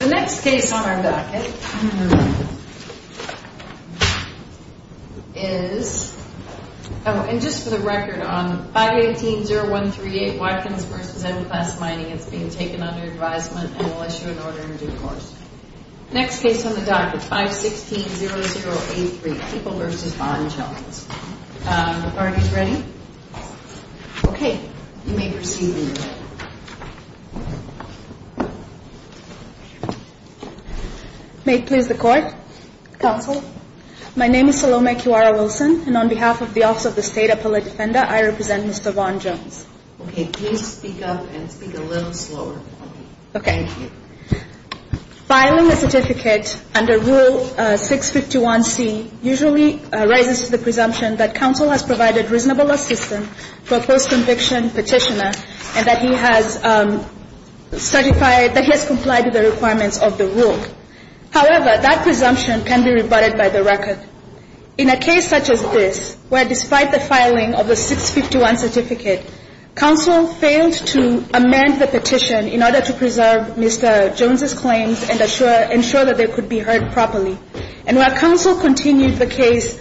The next case on our docket is on 518-0138 Watkins v. M Class Mining. It is being taken under advisement and will issue an order in due course. The next case on the docket is 516-0083 People v. Bond Jones. The parties ready? Okay, you may proceed. May it please the Court? Counsel? My name is Salome Kiwara-Wilson and on behalf of the Office of the State Appellate Defender, I represent Mr. Bond Jones. Okay, please speak up and speak a little slower. Okay. Thank you. Filing a certificate under Rule 651C usually rises to the presumption that counsel has provided reasonable assistance for a post-conviction petitioner and that he has certified, that he has complied with the requirements of the rule. However, that presumption can be rebutted by the record. In a case such as this, where despite the filing of the 651 certificate, counsel failed to amend the petition in order to preserve Mr. Jones' claims and ensure that they could be heard properly. And while counsel continued the case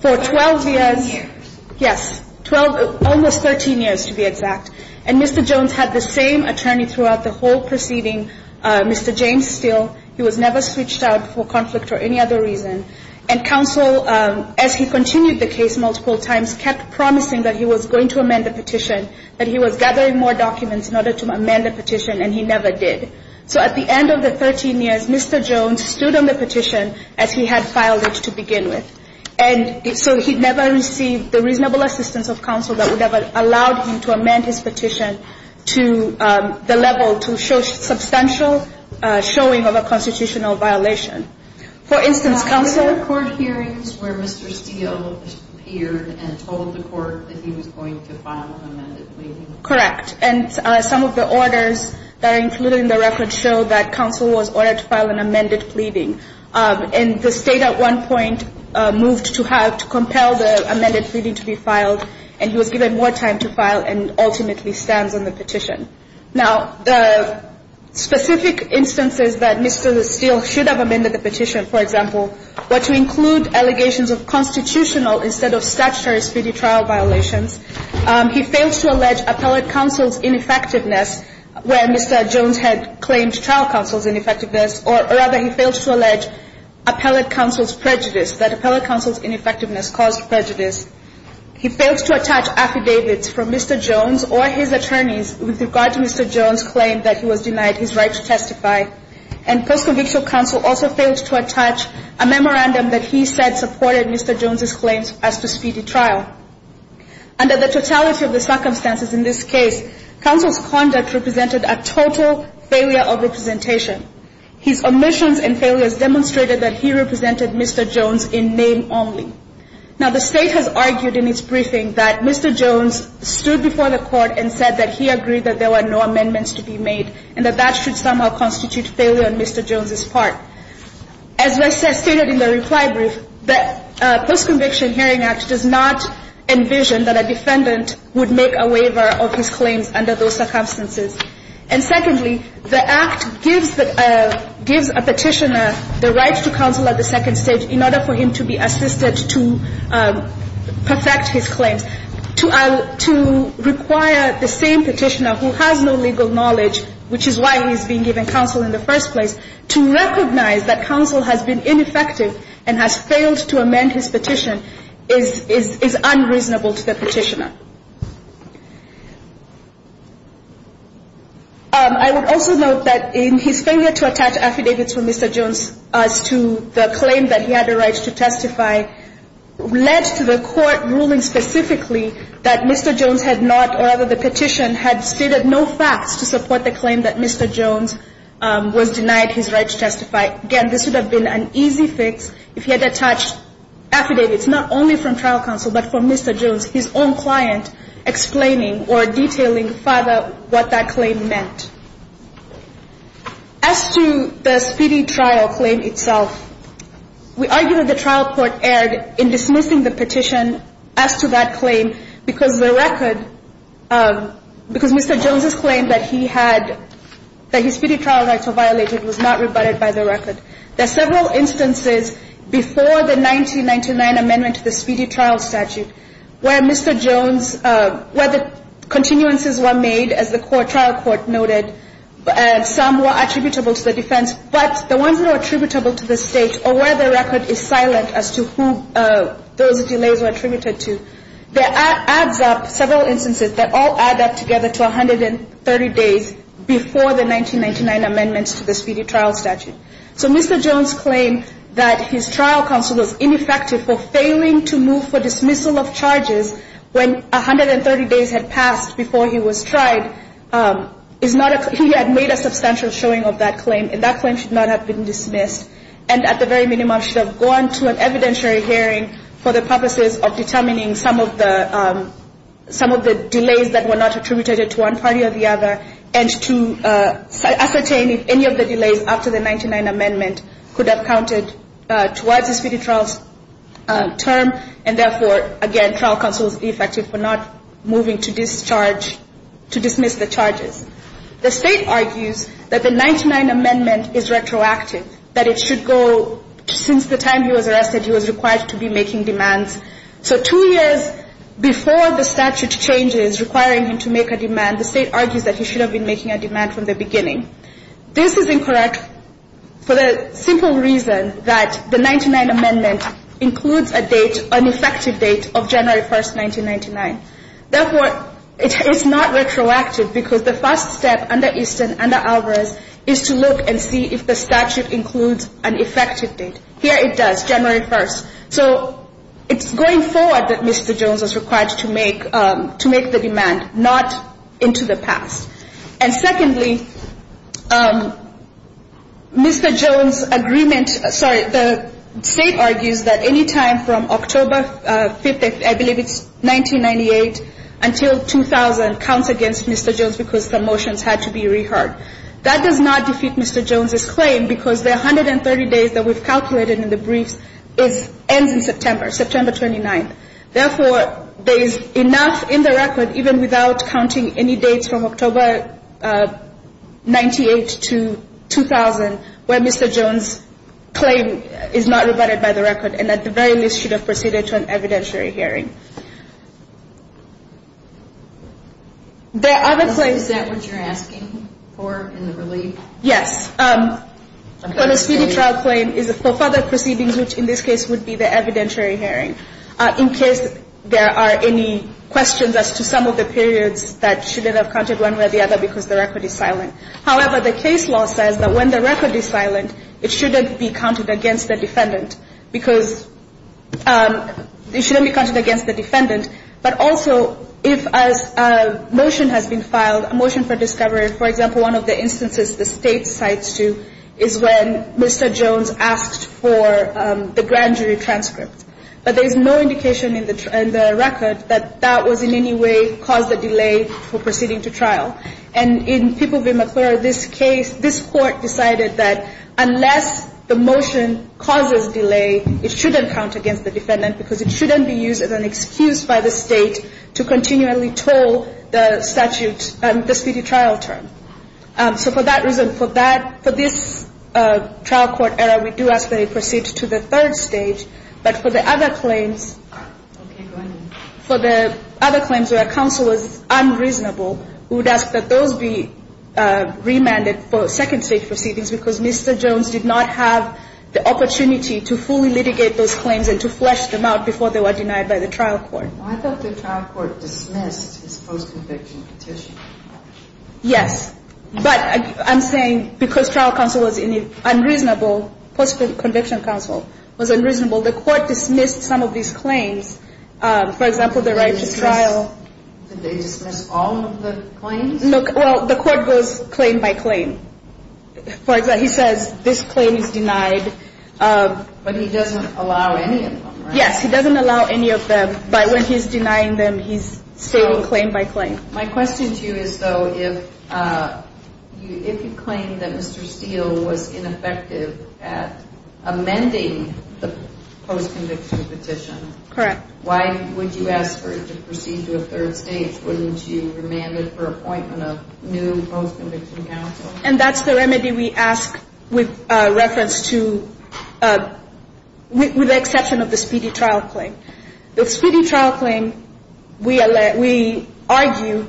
for 12 years, yes, almost 13 years to be exact, and Mr. Jones had the same attorney throughout the whole proceeding, Mr. James Steele, he was never switched out for conflict or any other reason. And counsel, as he continued the case multiple times, kept promising that he was going to amend the petition, that he was gathering more documents in order to amend the petition, and he never did. So at the end of the 13 years, Mr. Jones stood on the petition as he had filed it to begin with. And so he never received the reasonable assistance of counsel that would have allowed him to amend his petition to the level to show substantial showing of a constitutional violation. For instance, counsel – Was there court hearings where Mr. Steele appeared and told the court that he was going to file an amended pleading? Correct. And some of the orders that are included in the record show that counsel was ordered to file an amended pleading. And the State at one point moved to have – to compel the amended pleading to be filed, and he was given more time to file and ultimately stands on the petition. Now, the specific instances that Mr. Steele should have amended the petition, for example, were to include allegations of constitutional instead of statutory speedy trial violations. He failed to allege appellate counsel's ineffectiveness where Mr. Jones had claimed trial counsel's ineffectiveness, or rather he failed to allege appellate counsel's prejudice, that appellate counsel's ineffectiveness caused prejudice. He failed to attach affidavits from Mr. Jones or his attorneys with regard to Mr. Jones' claim that he was denied his right to testify. And post-convictional counsel also failed to attach a memorandum that he said supported Mr. Jones' claims as to speedy trial. Under the totality of the circumstances in this case, counsel's conduct represented a total failure of representation. His omissions and failures demonstrated that he represented Mr. Jones in name only. Now, the State has argued in its briefing that Mr. Jones stood before the Court and said that he agreed that there were no amendments to be made and that that should somehow constitute failure on Mr. Jones' part. As was stated in the reply brief, the Post-Conviction Hearing Act does not envision that a defendant would make a waiver of his claims under those circumstances. And secondly, the Act gives a petitioner the right to counsel at the second stage in order for him to be assisted to perfect his claims. To require the same petitioner who has no legal knowledge, which is why he's being given counsel in the first place, to recognize that counsel has been ineffective and has failed to amend his petition is unreasonable to the petitioner. I would also note that in his failure to attach affidavits for Mr. Jones as to the claim that he had the right to testify led to the Court ruling specifically that Mr. Jones had not, or rather the petition, had stated no facts to support the claim that Mr. Jones was denied his right to testify. Again, this would have been an easy fix if he had attached affidavits not only from trial counsel but from Mr. Jones, his own client, explaining or detailing further what that claim meant. As to the speedy trial claim itself, we argue that the trial court erred in dismissing the petition as to that claim because the record, because Mr. Jones' claim that he had, that his speedy trial rights were violated was not rebutted by the record. There are several instances before the 1999 amendment to the speedy trial statute where Mr. Jones, where the continuances were made as the trial court noted, some were attributable to the defense, but the ones that are attributable to the state or where the record is silent as to who those delays were attributed to, there are, adds up, several instances that all add up together to 130 days before the 1999 amendments to the speedy trial statute. So Mr. Jones' claim that his trial counsel was ineffective for failing to move for dismissal of charges when 130 days had passed before he was tried is not a, he had made a substantial showing of that claim and that claim should not have been dismissed and at the very minimum should have gone to an evidentiary hearing for the purposes of determining some of the, some of the delays that were not attributed to one party or the other and to ascertain if any of the delays after the 1999 amendment could have counted towards the speedy trial term and therefore, again, trial counsel was ineffective for not moving to discharge, to dismiss the charges. The state argues that the 1999 amendment is retroactive, that it should go, since the time he was arrested, he was required to be making demands. So two years before the statute changes requiring him to make a demand, the state argues that he should have been making a demand from the beginning. This is incorrect for the simple reason that the 1999 amendment includes a date, an effective date of January 1st, 1999. Therefore, it is not retroactive because the first step under Easton, under Alvarez, is to look and see if the statute includes an effective date. Here it does, January 1st. So it's going forward that Mr. Jones was required to make, to make the demand, not into the past. And secondly, Mr. Jones' agreement, sorry, the state argues that any time from October 5th, I believe it's 1998, until 2000 counts against Mr. Jones because the motions had to be reheard. That does not defeat Mr. Jones' claim because the 130 days that we've calculated in the briefs ends in September, September 29th. Therefore, there is enough in the record, even without counting any dates from October 98 to 2000, where Mr. Jones' claim is not rebutted by the record and at the very least should have proceeded to an evidentiary hearing. There are other claims. Is that what you're asking for in the relief? Yes. But a speedy trial claim is for further proceedings, which in this case would be the evidentiary hearing, in case there are any questions as to some of the periods that shouldn't have counted one way or the other because the record is silent. However, the case law says that when the record is silent, it shouldn't be counted against the defendant because it shouldn't be counted against the defendant. But also, if a motion has been filed, a motion for discovery, for example, one of the instances the state cites to is when Mr. Jones asked for the grand jury transcript. But there is no indication in the record that that was in any way caused a delay for proceeding to trial. And in People v. McClure, this case, this court decided that unless the motion causes delay, it shouldn't count against the defendant because it shouldn't be used as an excuse by the state to continually toll the statute, the speedy trial term. So for that reason, for this trial court error, we do ask that it proceed to the third stage. But for the other claims, for the other claims where counsel was unreasonable, we would ask that those be remanded for second stage proceedings because Mr. Jones did not have the opportunity to fully litigate those claims and to flesh them out before they were denied by the trial court. I thought the trial court dismissed his post-conviction petition. Yes. But I'm saying because trial counsel was unreasonable, post-conviction counsel was unreasonable, the court dismissed some of these claims. For example, the right to trial. Did they dismiss all of the claims? Well, the court goes claim by claim. He says this claim is denied. But he doesn't allow any of them, right? Yes, he doesn't allow any of them. But when he's denying them, he's stating claim by claim. My question to you is, though, if you claim that Mr. Steele was ineffective at amending the post-conviction petition. Correct. Why would you ask for it to proceed to a third stage? Wouldn't you remand it for appointment of new post-conviction counsel? And that's the remedy we ask with reference to the exception of the speedy trial claim. The speedy trial claim, we argue,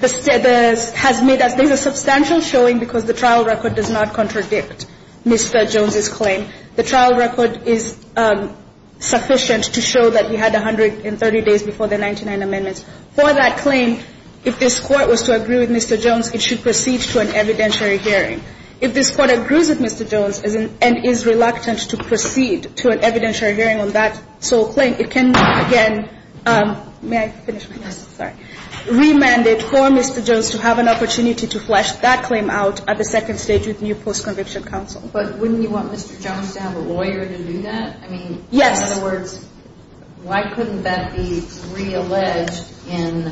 has made a substantial showing because the trial record does not contradict Mr. Jones's claim. The trial record is sufficient to show that he had 130 days before the 99 amendments. For that claim, if this court was to agree with Mr. Jones, it should proceed to an evidentiary hearing. If this court agrees with Mr. Jones and is reluctant to proceed to an evidentiary hearing on that sole claim, it can, again May I finish my question? Sorry. Remand it for Mr. Jones to have an opportunity to flesh that claim out at the second stage with new post-conviction counsel. But wouldn't you want Mr. Jones to have a lawyer to do that? I mean, in other words, why couldn't that be realleged in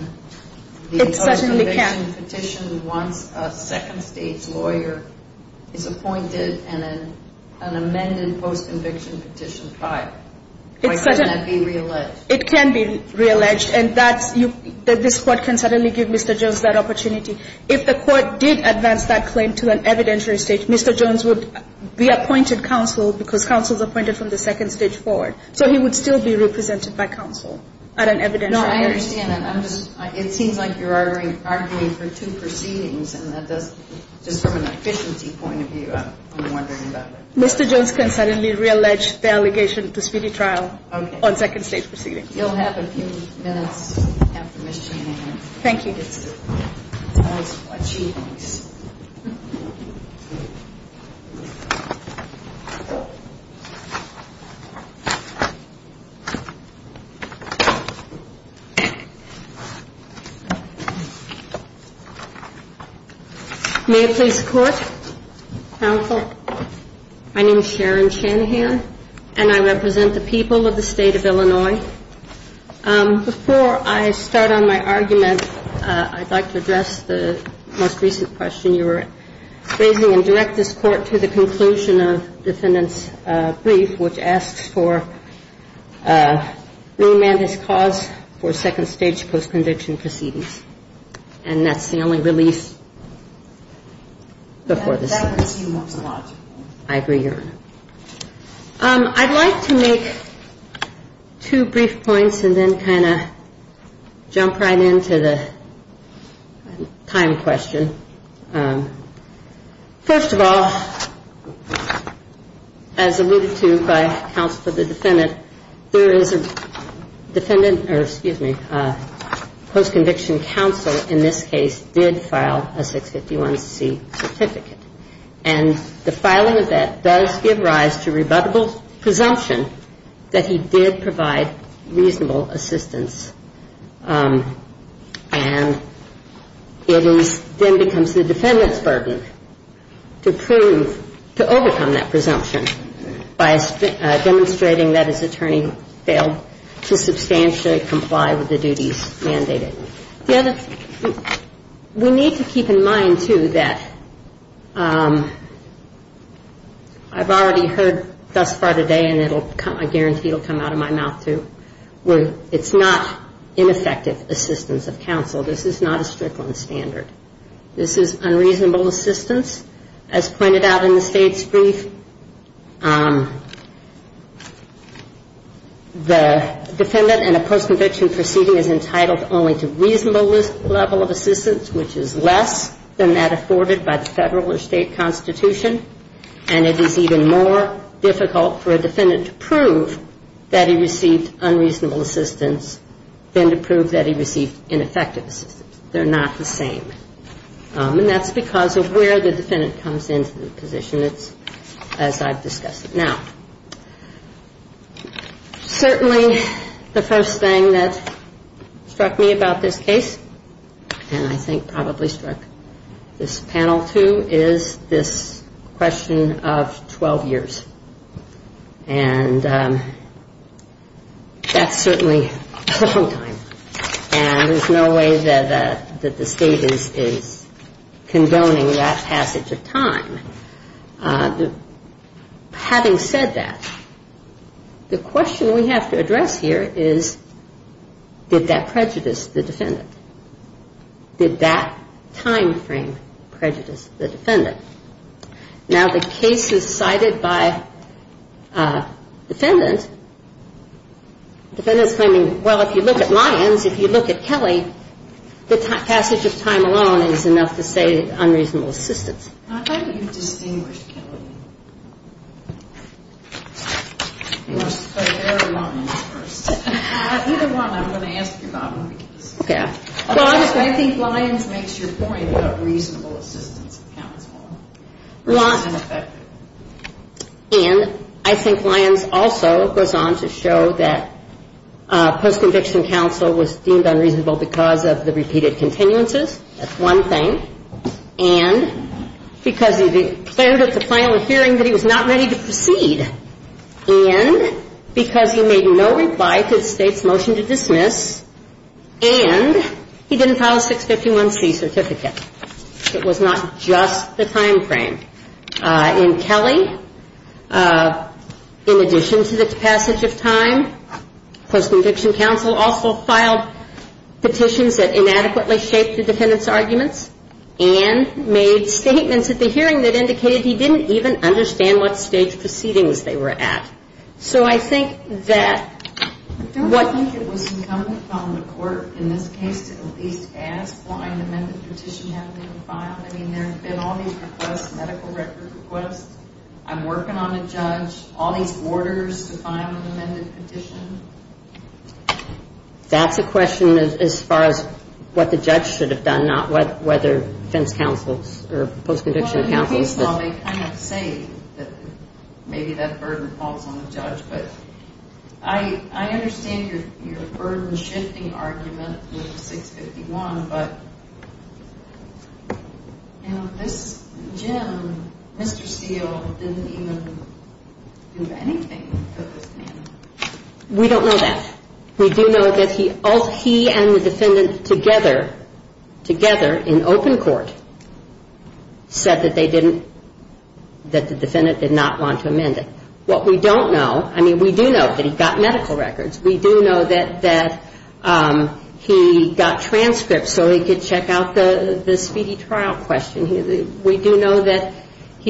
the post-conviction petition once a second stage lawyer is appointed and an amended post-conviction petition filed? Why couldn't that be realleged? It can be realleged. And that's you – this Court can certainly give Mr. Jones that opportunity. If the Court did advance that claim to an evidentiary stage, Mr. Jones would be appointed counsel because counsel is appointed from the second stage forward. So he would still be represented by counsel at an evidentiary hearing. No, I understand. I'm just – it seems like you're arguing for two proceedings, and that does – just from an efficiency point of view, I'm wondering about that. Mr. Jones can certainly reallege the allegation to speedy trial on second stage proceedings. You'll have a few minutes after Ms. Channing. Thank you. May it please the Court. Counsel, my name is Sharon Channing here, and I represent the people of the State of Illinois. Before I start on my argument, I'd like to address the most recent question you were raising and direct this Court to the conclusion of Defendant's brief, which asks for remand as cause for second stage post-conviction proceedings. And that's the only release before this Court. I agree, Your Honor. I'd like to make two brief points and then kind of jump right into the time question. First of all, as alluded to by counsel to the defendant, there is a defendant – or, excuse me, post-conviction counsel in this case did file a 651C certificate. And the filing of that does give rise to rebuttable presumption that he did provide reasonable assistance. And it is – then becomes the defendant's burden to prove – to overcome that presumption by demonstrating that his attorney failed to substantially comply with the duties mandated. The other – we need to keep in mind, too, that I've already heard thus far today, and I guarantee it will come out of my mouth, too, where it's not ineffective assistance of counsel. This is not a strickland standard. This is unreasonable assistance, as pointed out in the State's brief. The defendant in a post-conviction proceeding is entitled only to reasonable level of assistance, which is less than that afforded by the Federal or State Constitution. And it is even more difficult for a defendant to prove that he received unreasonable assistance than to prove that he received ineffective assistance. They're not the same. And that's because of where the defendant comes into the position. It's as I've discussed it now. Certainly the first thing that struck me about this case, and I think probably struck this panel, too, is this question of 12 years. And that's certainly a long time. And there's no way that the State is condoning that passage of time. Having said that, the question we have to address here is, did that prejudice the defendant? Did that time frame prejudice the defendant? Now, the case is cited by defendants. Defendants are not the same. The defendant is claiming, well, if you look at Lyons, if you look at Kelly, the passage of time alone is enough to say unreasonable assistance. I thought you distinguished Kelly. You must have said every one of them first. Either one, I'm going to ask you about Marie's. I think Lyons makes your point about reasonable assistance counts more. It's ineffective. And I think Lyons also goes on to show that post-conviction counsel was deemed unreasonable because of the repeated continuances. That's one thing. And because he declared at the final hearing that he was not ready to proceed. And because he made no reply to the State's motion to dismiss. And he didn't file a 651C certificate. It was not just the time frame. In Kelly, in addition to the passage of time, post-conviction counsel also filed petitions that inadequately shaped the defendant's arguments and made statements at the hearing that indicated he didn't even understand what stage proceedings they were at. So I think that what... That's a question as far as what the judge should have done, not whether defense counsels or post-conviction counsels... Well, in the case law, they kind of say that maybe that burden falls on the judge, but I understand your burden-shifting argument with 651, but... But I think that's a question as far as what the judge should have done, not whether defense counsels or post-conviction counsels. That's a question as far as what the judge should have done, not whether defense counsels or post-conviction counsels. We do know that he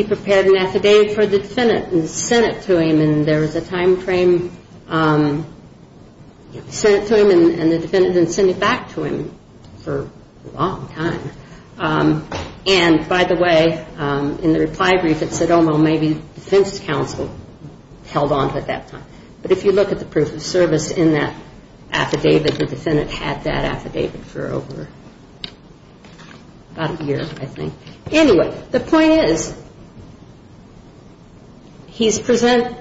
prepared an affidavit for the defendant and sent it to him, and there was a time frame... Sent it to him and the defendant didn't send it back to him for a long time. And, by the way, in the reply brief, it said, oh, well, maybe defense counsel held on to it that time. But if you look at the proof of service in that affidavit, the defendant had that affidavit for over about a year, I think. Anyway, the point is, he's presented...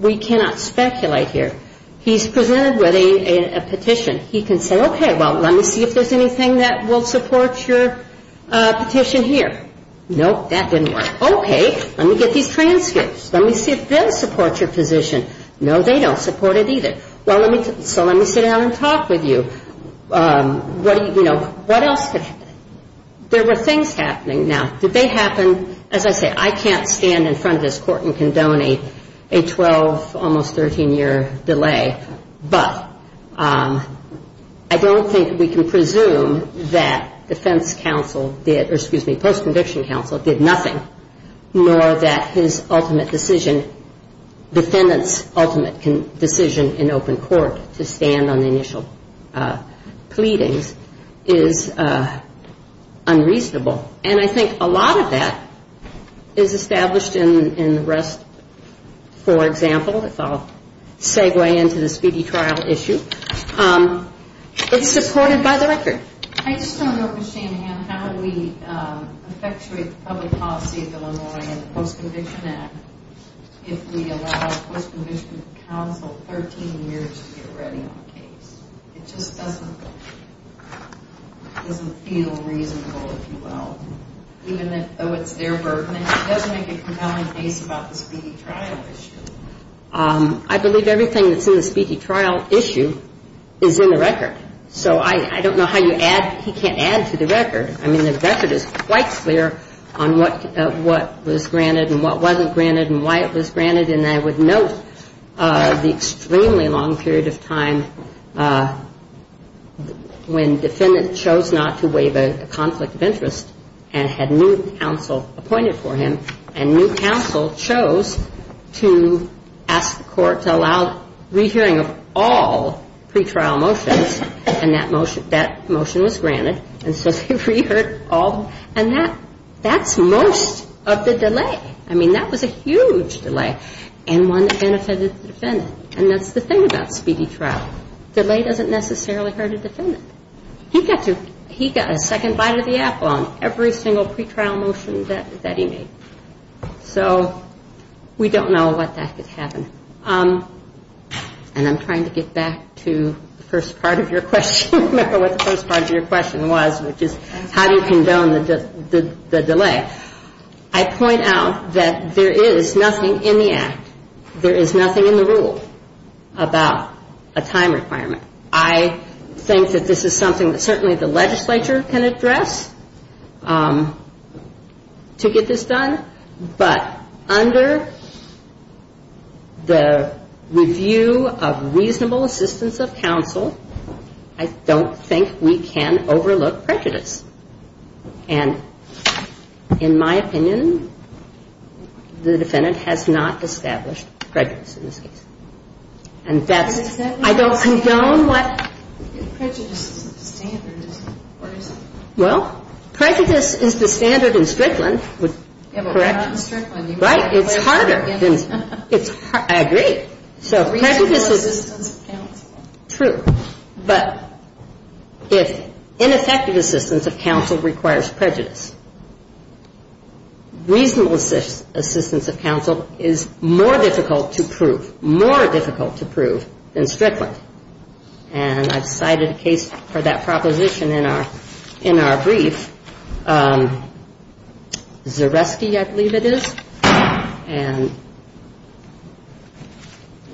We cannot speculate here. He's presented with a petition. He can say, okay, well, let me see if there's anything that will support your petition here. Nope, that didn't work. Okay, let me get these transcripts. Let me see if they'll support your position. No, they don't support it either. So let me sit down and talk with you. What else could... There were things happening. Now, did they happen... As I say, I can't stand in front of this court and condone a 12, almost 13-year delay. But I don't think we can presume that defense counsel did... Defendant's ultimate decision in open court to stand on the initial pleadings is unreasonable. And I think a lot of that is established in the rest. For example, if I'll segue into the speedy trial issue, it's supported by the record. I just don't understand how we effectuate the public policy of Illinois in the Post-Conviction Act if we allow post-conviction counsel 13 years to get ready on a case. It just doesn't feel reasonable, if you will, even though it's their burden. It doesn't make a compelling case about the speedy trial issue. I believe everything that's in the speedy trial issue is in the record. So I don't know how you add... He can't add to the record. I mean, the record is quite clear on what was granted and what wasn't granted and why it was granted. And I would note the extremely long period of time when defendant chose not to waive a conflict of interest and had new counsel appointed for him, and new counsel chose to ask the court to allow re-hearing of all pretrial motions, and that motion was granted, and so they re-heard all. And that's most of the delay. I mean, that was a huge delay, and one that benefited the defendant. And that's the thing about speedy trial. Delay doesn't necessarily hurt a defendant. He got a second bite of the apple on every single pretrial motion that he made. So we don't know what that could happen. And I'm trying to get back to the first part of your question. I don't remember what the first part of your question was, which is how do you condone the delay. I point out that there is nothing in the Act, there is nothing in the rule, about a time requirement. I think that this is something that certainly the legislature can address to get this done. But under the review of reasonable assistance of counsel, I don't think we can overlook prejudice. And in my opinion, the defendant has not established prejudice in this case. And that's why I don't condone what? Well, prejudice is the standard in Strickland. Correct? Right. It's harder. I agree. So prejudice is true. But if ineffective assistance of counsel requires prejudice, reasonable assistance of counsel is more difficult to prove, more difficult to prove than Strickland. And I've cited a case for that proposition in our brief. Zaresky, I believe it is. And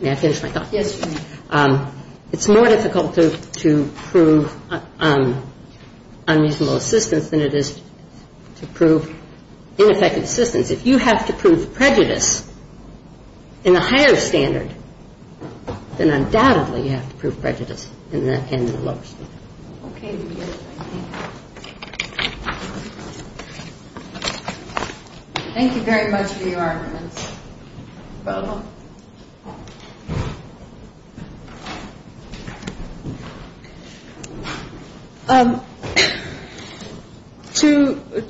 may I finish my thought? Yes, you may. It's more difficult to prove unreasonable assistance than it is to prove ineffective assistance. If you have to prove prejudice in a higher standard, then undoubtedly you have to prove prejudice in that standard. Okay. Thank you very much for your arguments. You're welcome.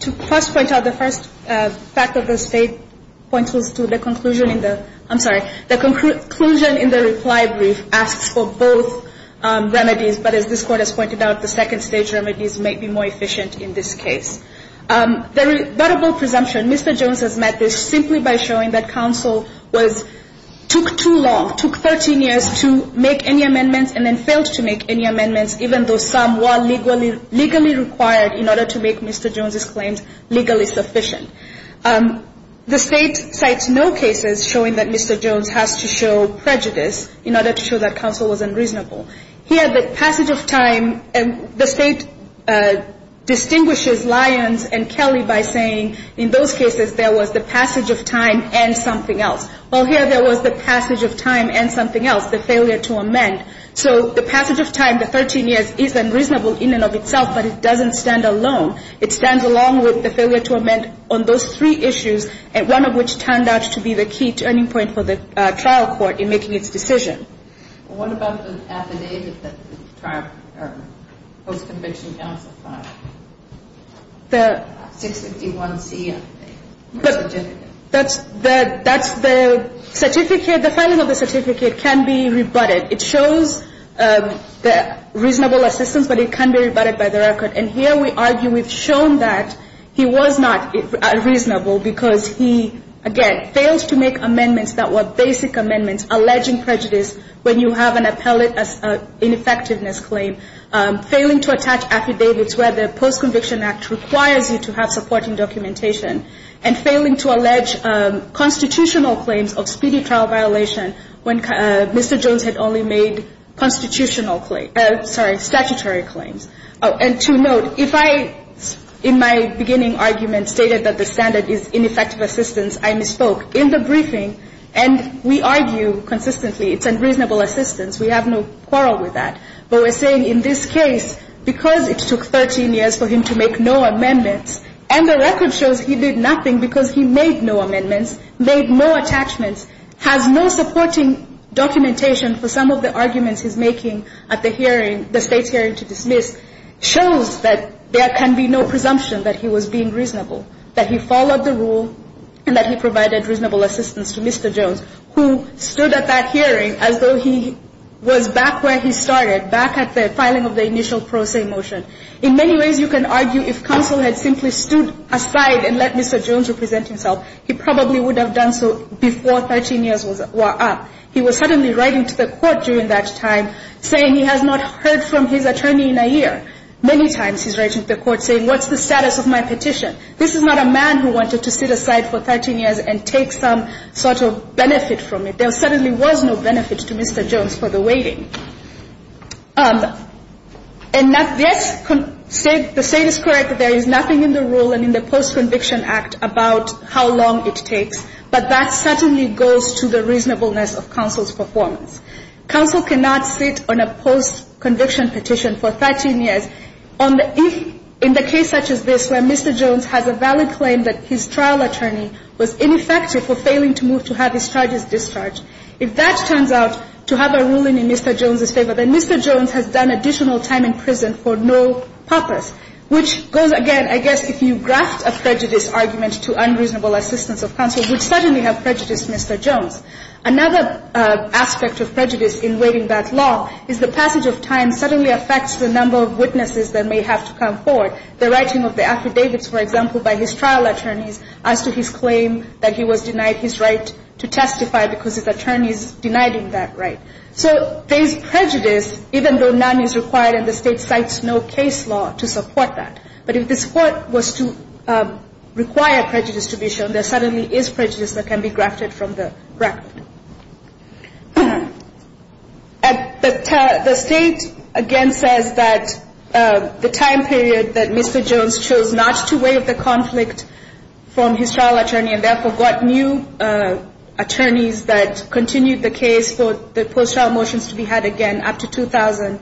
To first point out, the first fact of the State point was to the conclusion in the ‑‑ I'm sorry. The conclusion in the reply brief asks for both remedies. But as this Court has pointed out, the second-stage remedies may be more efficient in this case. The rebuttable presumption, Mr. Jones has met this simply by showing that counsel took too long, took 13 years to make any amendments and then failed to make any amendments, even though some were legally required in order to make Mr. Jones's claims legally sufficient. The State cites no cases showing that Mr. Jones has to show prejudice in order to show that counsel was unreasonable. Here, the passage of time, the State distinguishes Lyons and Kelly by saying in those cases, there was the passage of time and something else. Well, here there was the passage of time and something else, the failure to amend. So the passage of time, the 13 years, is unreasonable in and of itself, but it doesn't stand alone. It stands along with the failure to amend on those three issues, one of which turned out to be the key turning point for the trial court in making its decision. What about the affidavit that the post-conviction counsel filed? The 651C. That's the certificate. The filing of the certificate can be rebutted. It shows reasonable assistance, but it can be rebutted by the record. And here we argue we've shown that he was not reasonable because he, again, failed to make amendments that were basic amendments, alleging prejudice when you have an appellate ineffectiveness claim, failing to attach affidavits where the post-conviction act requires you to have supporting documentation, and failing to allege constitutional claims of speedy trial violation when Mr. Jones had only made constitutional claims. Sorry, statutory claims. Oh, and to note, if I, in my beginning argument, stated that the standard is ineffective assistance, I misspoke. In the briefing, and we argue consistently it's unreasonable assistance. We have no quarrel with that. But we're saying in this case, because it took 13 years for him to make no amendments, and the record shows he did nothing because he made no amendments, made no attachments, has no supporting documentation for some of the arguments he's making at the hearing, the State's hearing to dismiss, shows that there can be no presumption that he was being reasonable, that he followed the rule, and that he provided reasonable assistance to Mr. Jones, who stood at that hearing as though he was back where he started, back at the filing of the initial pro se motion. In many ways, you can argue if counsel had simply stood aside and let Mr. Jones represent himself, he probably would have done so before 13 years were up. He was suddenly writing to the court during that time saying he has not heard from his attorney in a year. Many times he's writing to the court saying, what's the status of my petition? This is not a man who wanted to sit aside for 13 years and take some sort of benefit from it. There certainly was no benefit to Mr. Jones for the waiting. And that this, the State is correct. There is nothing in the rule and in the Post-Conviction Act about how long it takes. But that certainly goes to the reasonableness of counsel's performance. Counsel cannot sit on a post-conviction petition for 13 years on the – in the case such as this, where Mr. Jones has a valid claim that his trial attorney was ineffective for failing to move to have his charges discharged. If that turns out to have a ruling in Mr. Jones' favor, then Mr. Jones has done additional time in prison for no purpose, which goes again, I guess, if you graft a prejudice argument to unreasonable assistance of counsel, would suddenly have prejudice, Mr. Jones. Another aspect of prejudice in waiving that law is the passage of time suddenly affects the number of witnesses that may have to come forward. The writing of the affidavits, for example, by his trial attorneys as to his claim that he was denied his right to testify because his attorney is denying that right. So there is prejudice, even though none is required and the State cites no case law to support that. But if the support was to require prejudice to be shown, there suddenly is prejudice that can be grafted from the record. The State, again, says that the time period that Mr. Jones chose not to waive the conflict from his trial attorney and therefore got new attorneys that continued the case for the post-trial motions to be had again up to 2000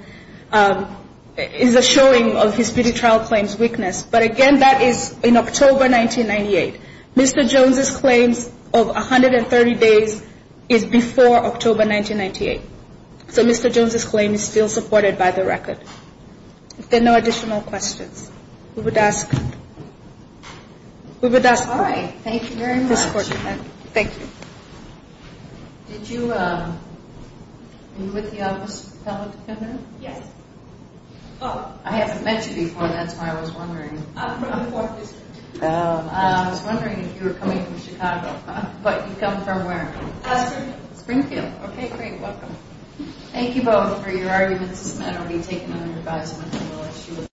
is a showing of his pre-trial claims weakness. But again, that is in October 1998. Mr. Jones' claims of 130 days is before October 1998. So Mr. Jones' claim is still supported by the record. If there are no additional questions, we would ask. We would ask. All right. Thank you very much. Thank you. Thank you. Did you, are you with the office of the fellow defender? Yes. Oh, I haven't met you before. That's why I was wondering. I'm from the Fourth District. Oh. I was wondering if you were coming from Chicago. But you come from where? Springfield. Springfield. Okay, great. Welcome. Thank you both for your arguments. This matter will be taken under advisement.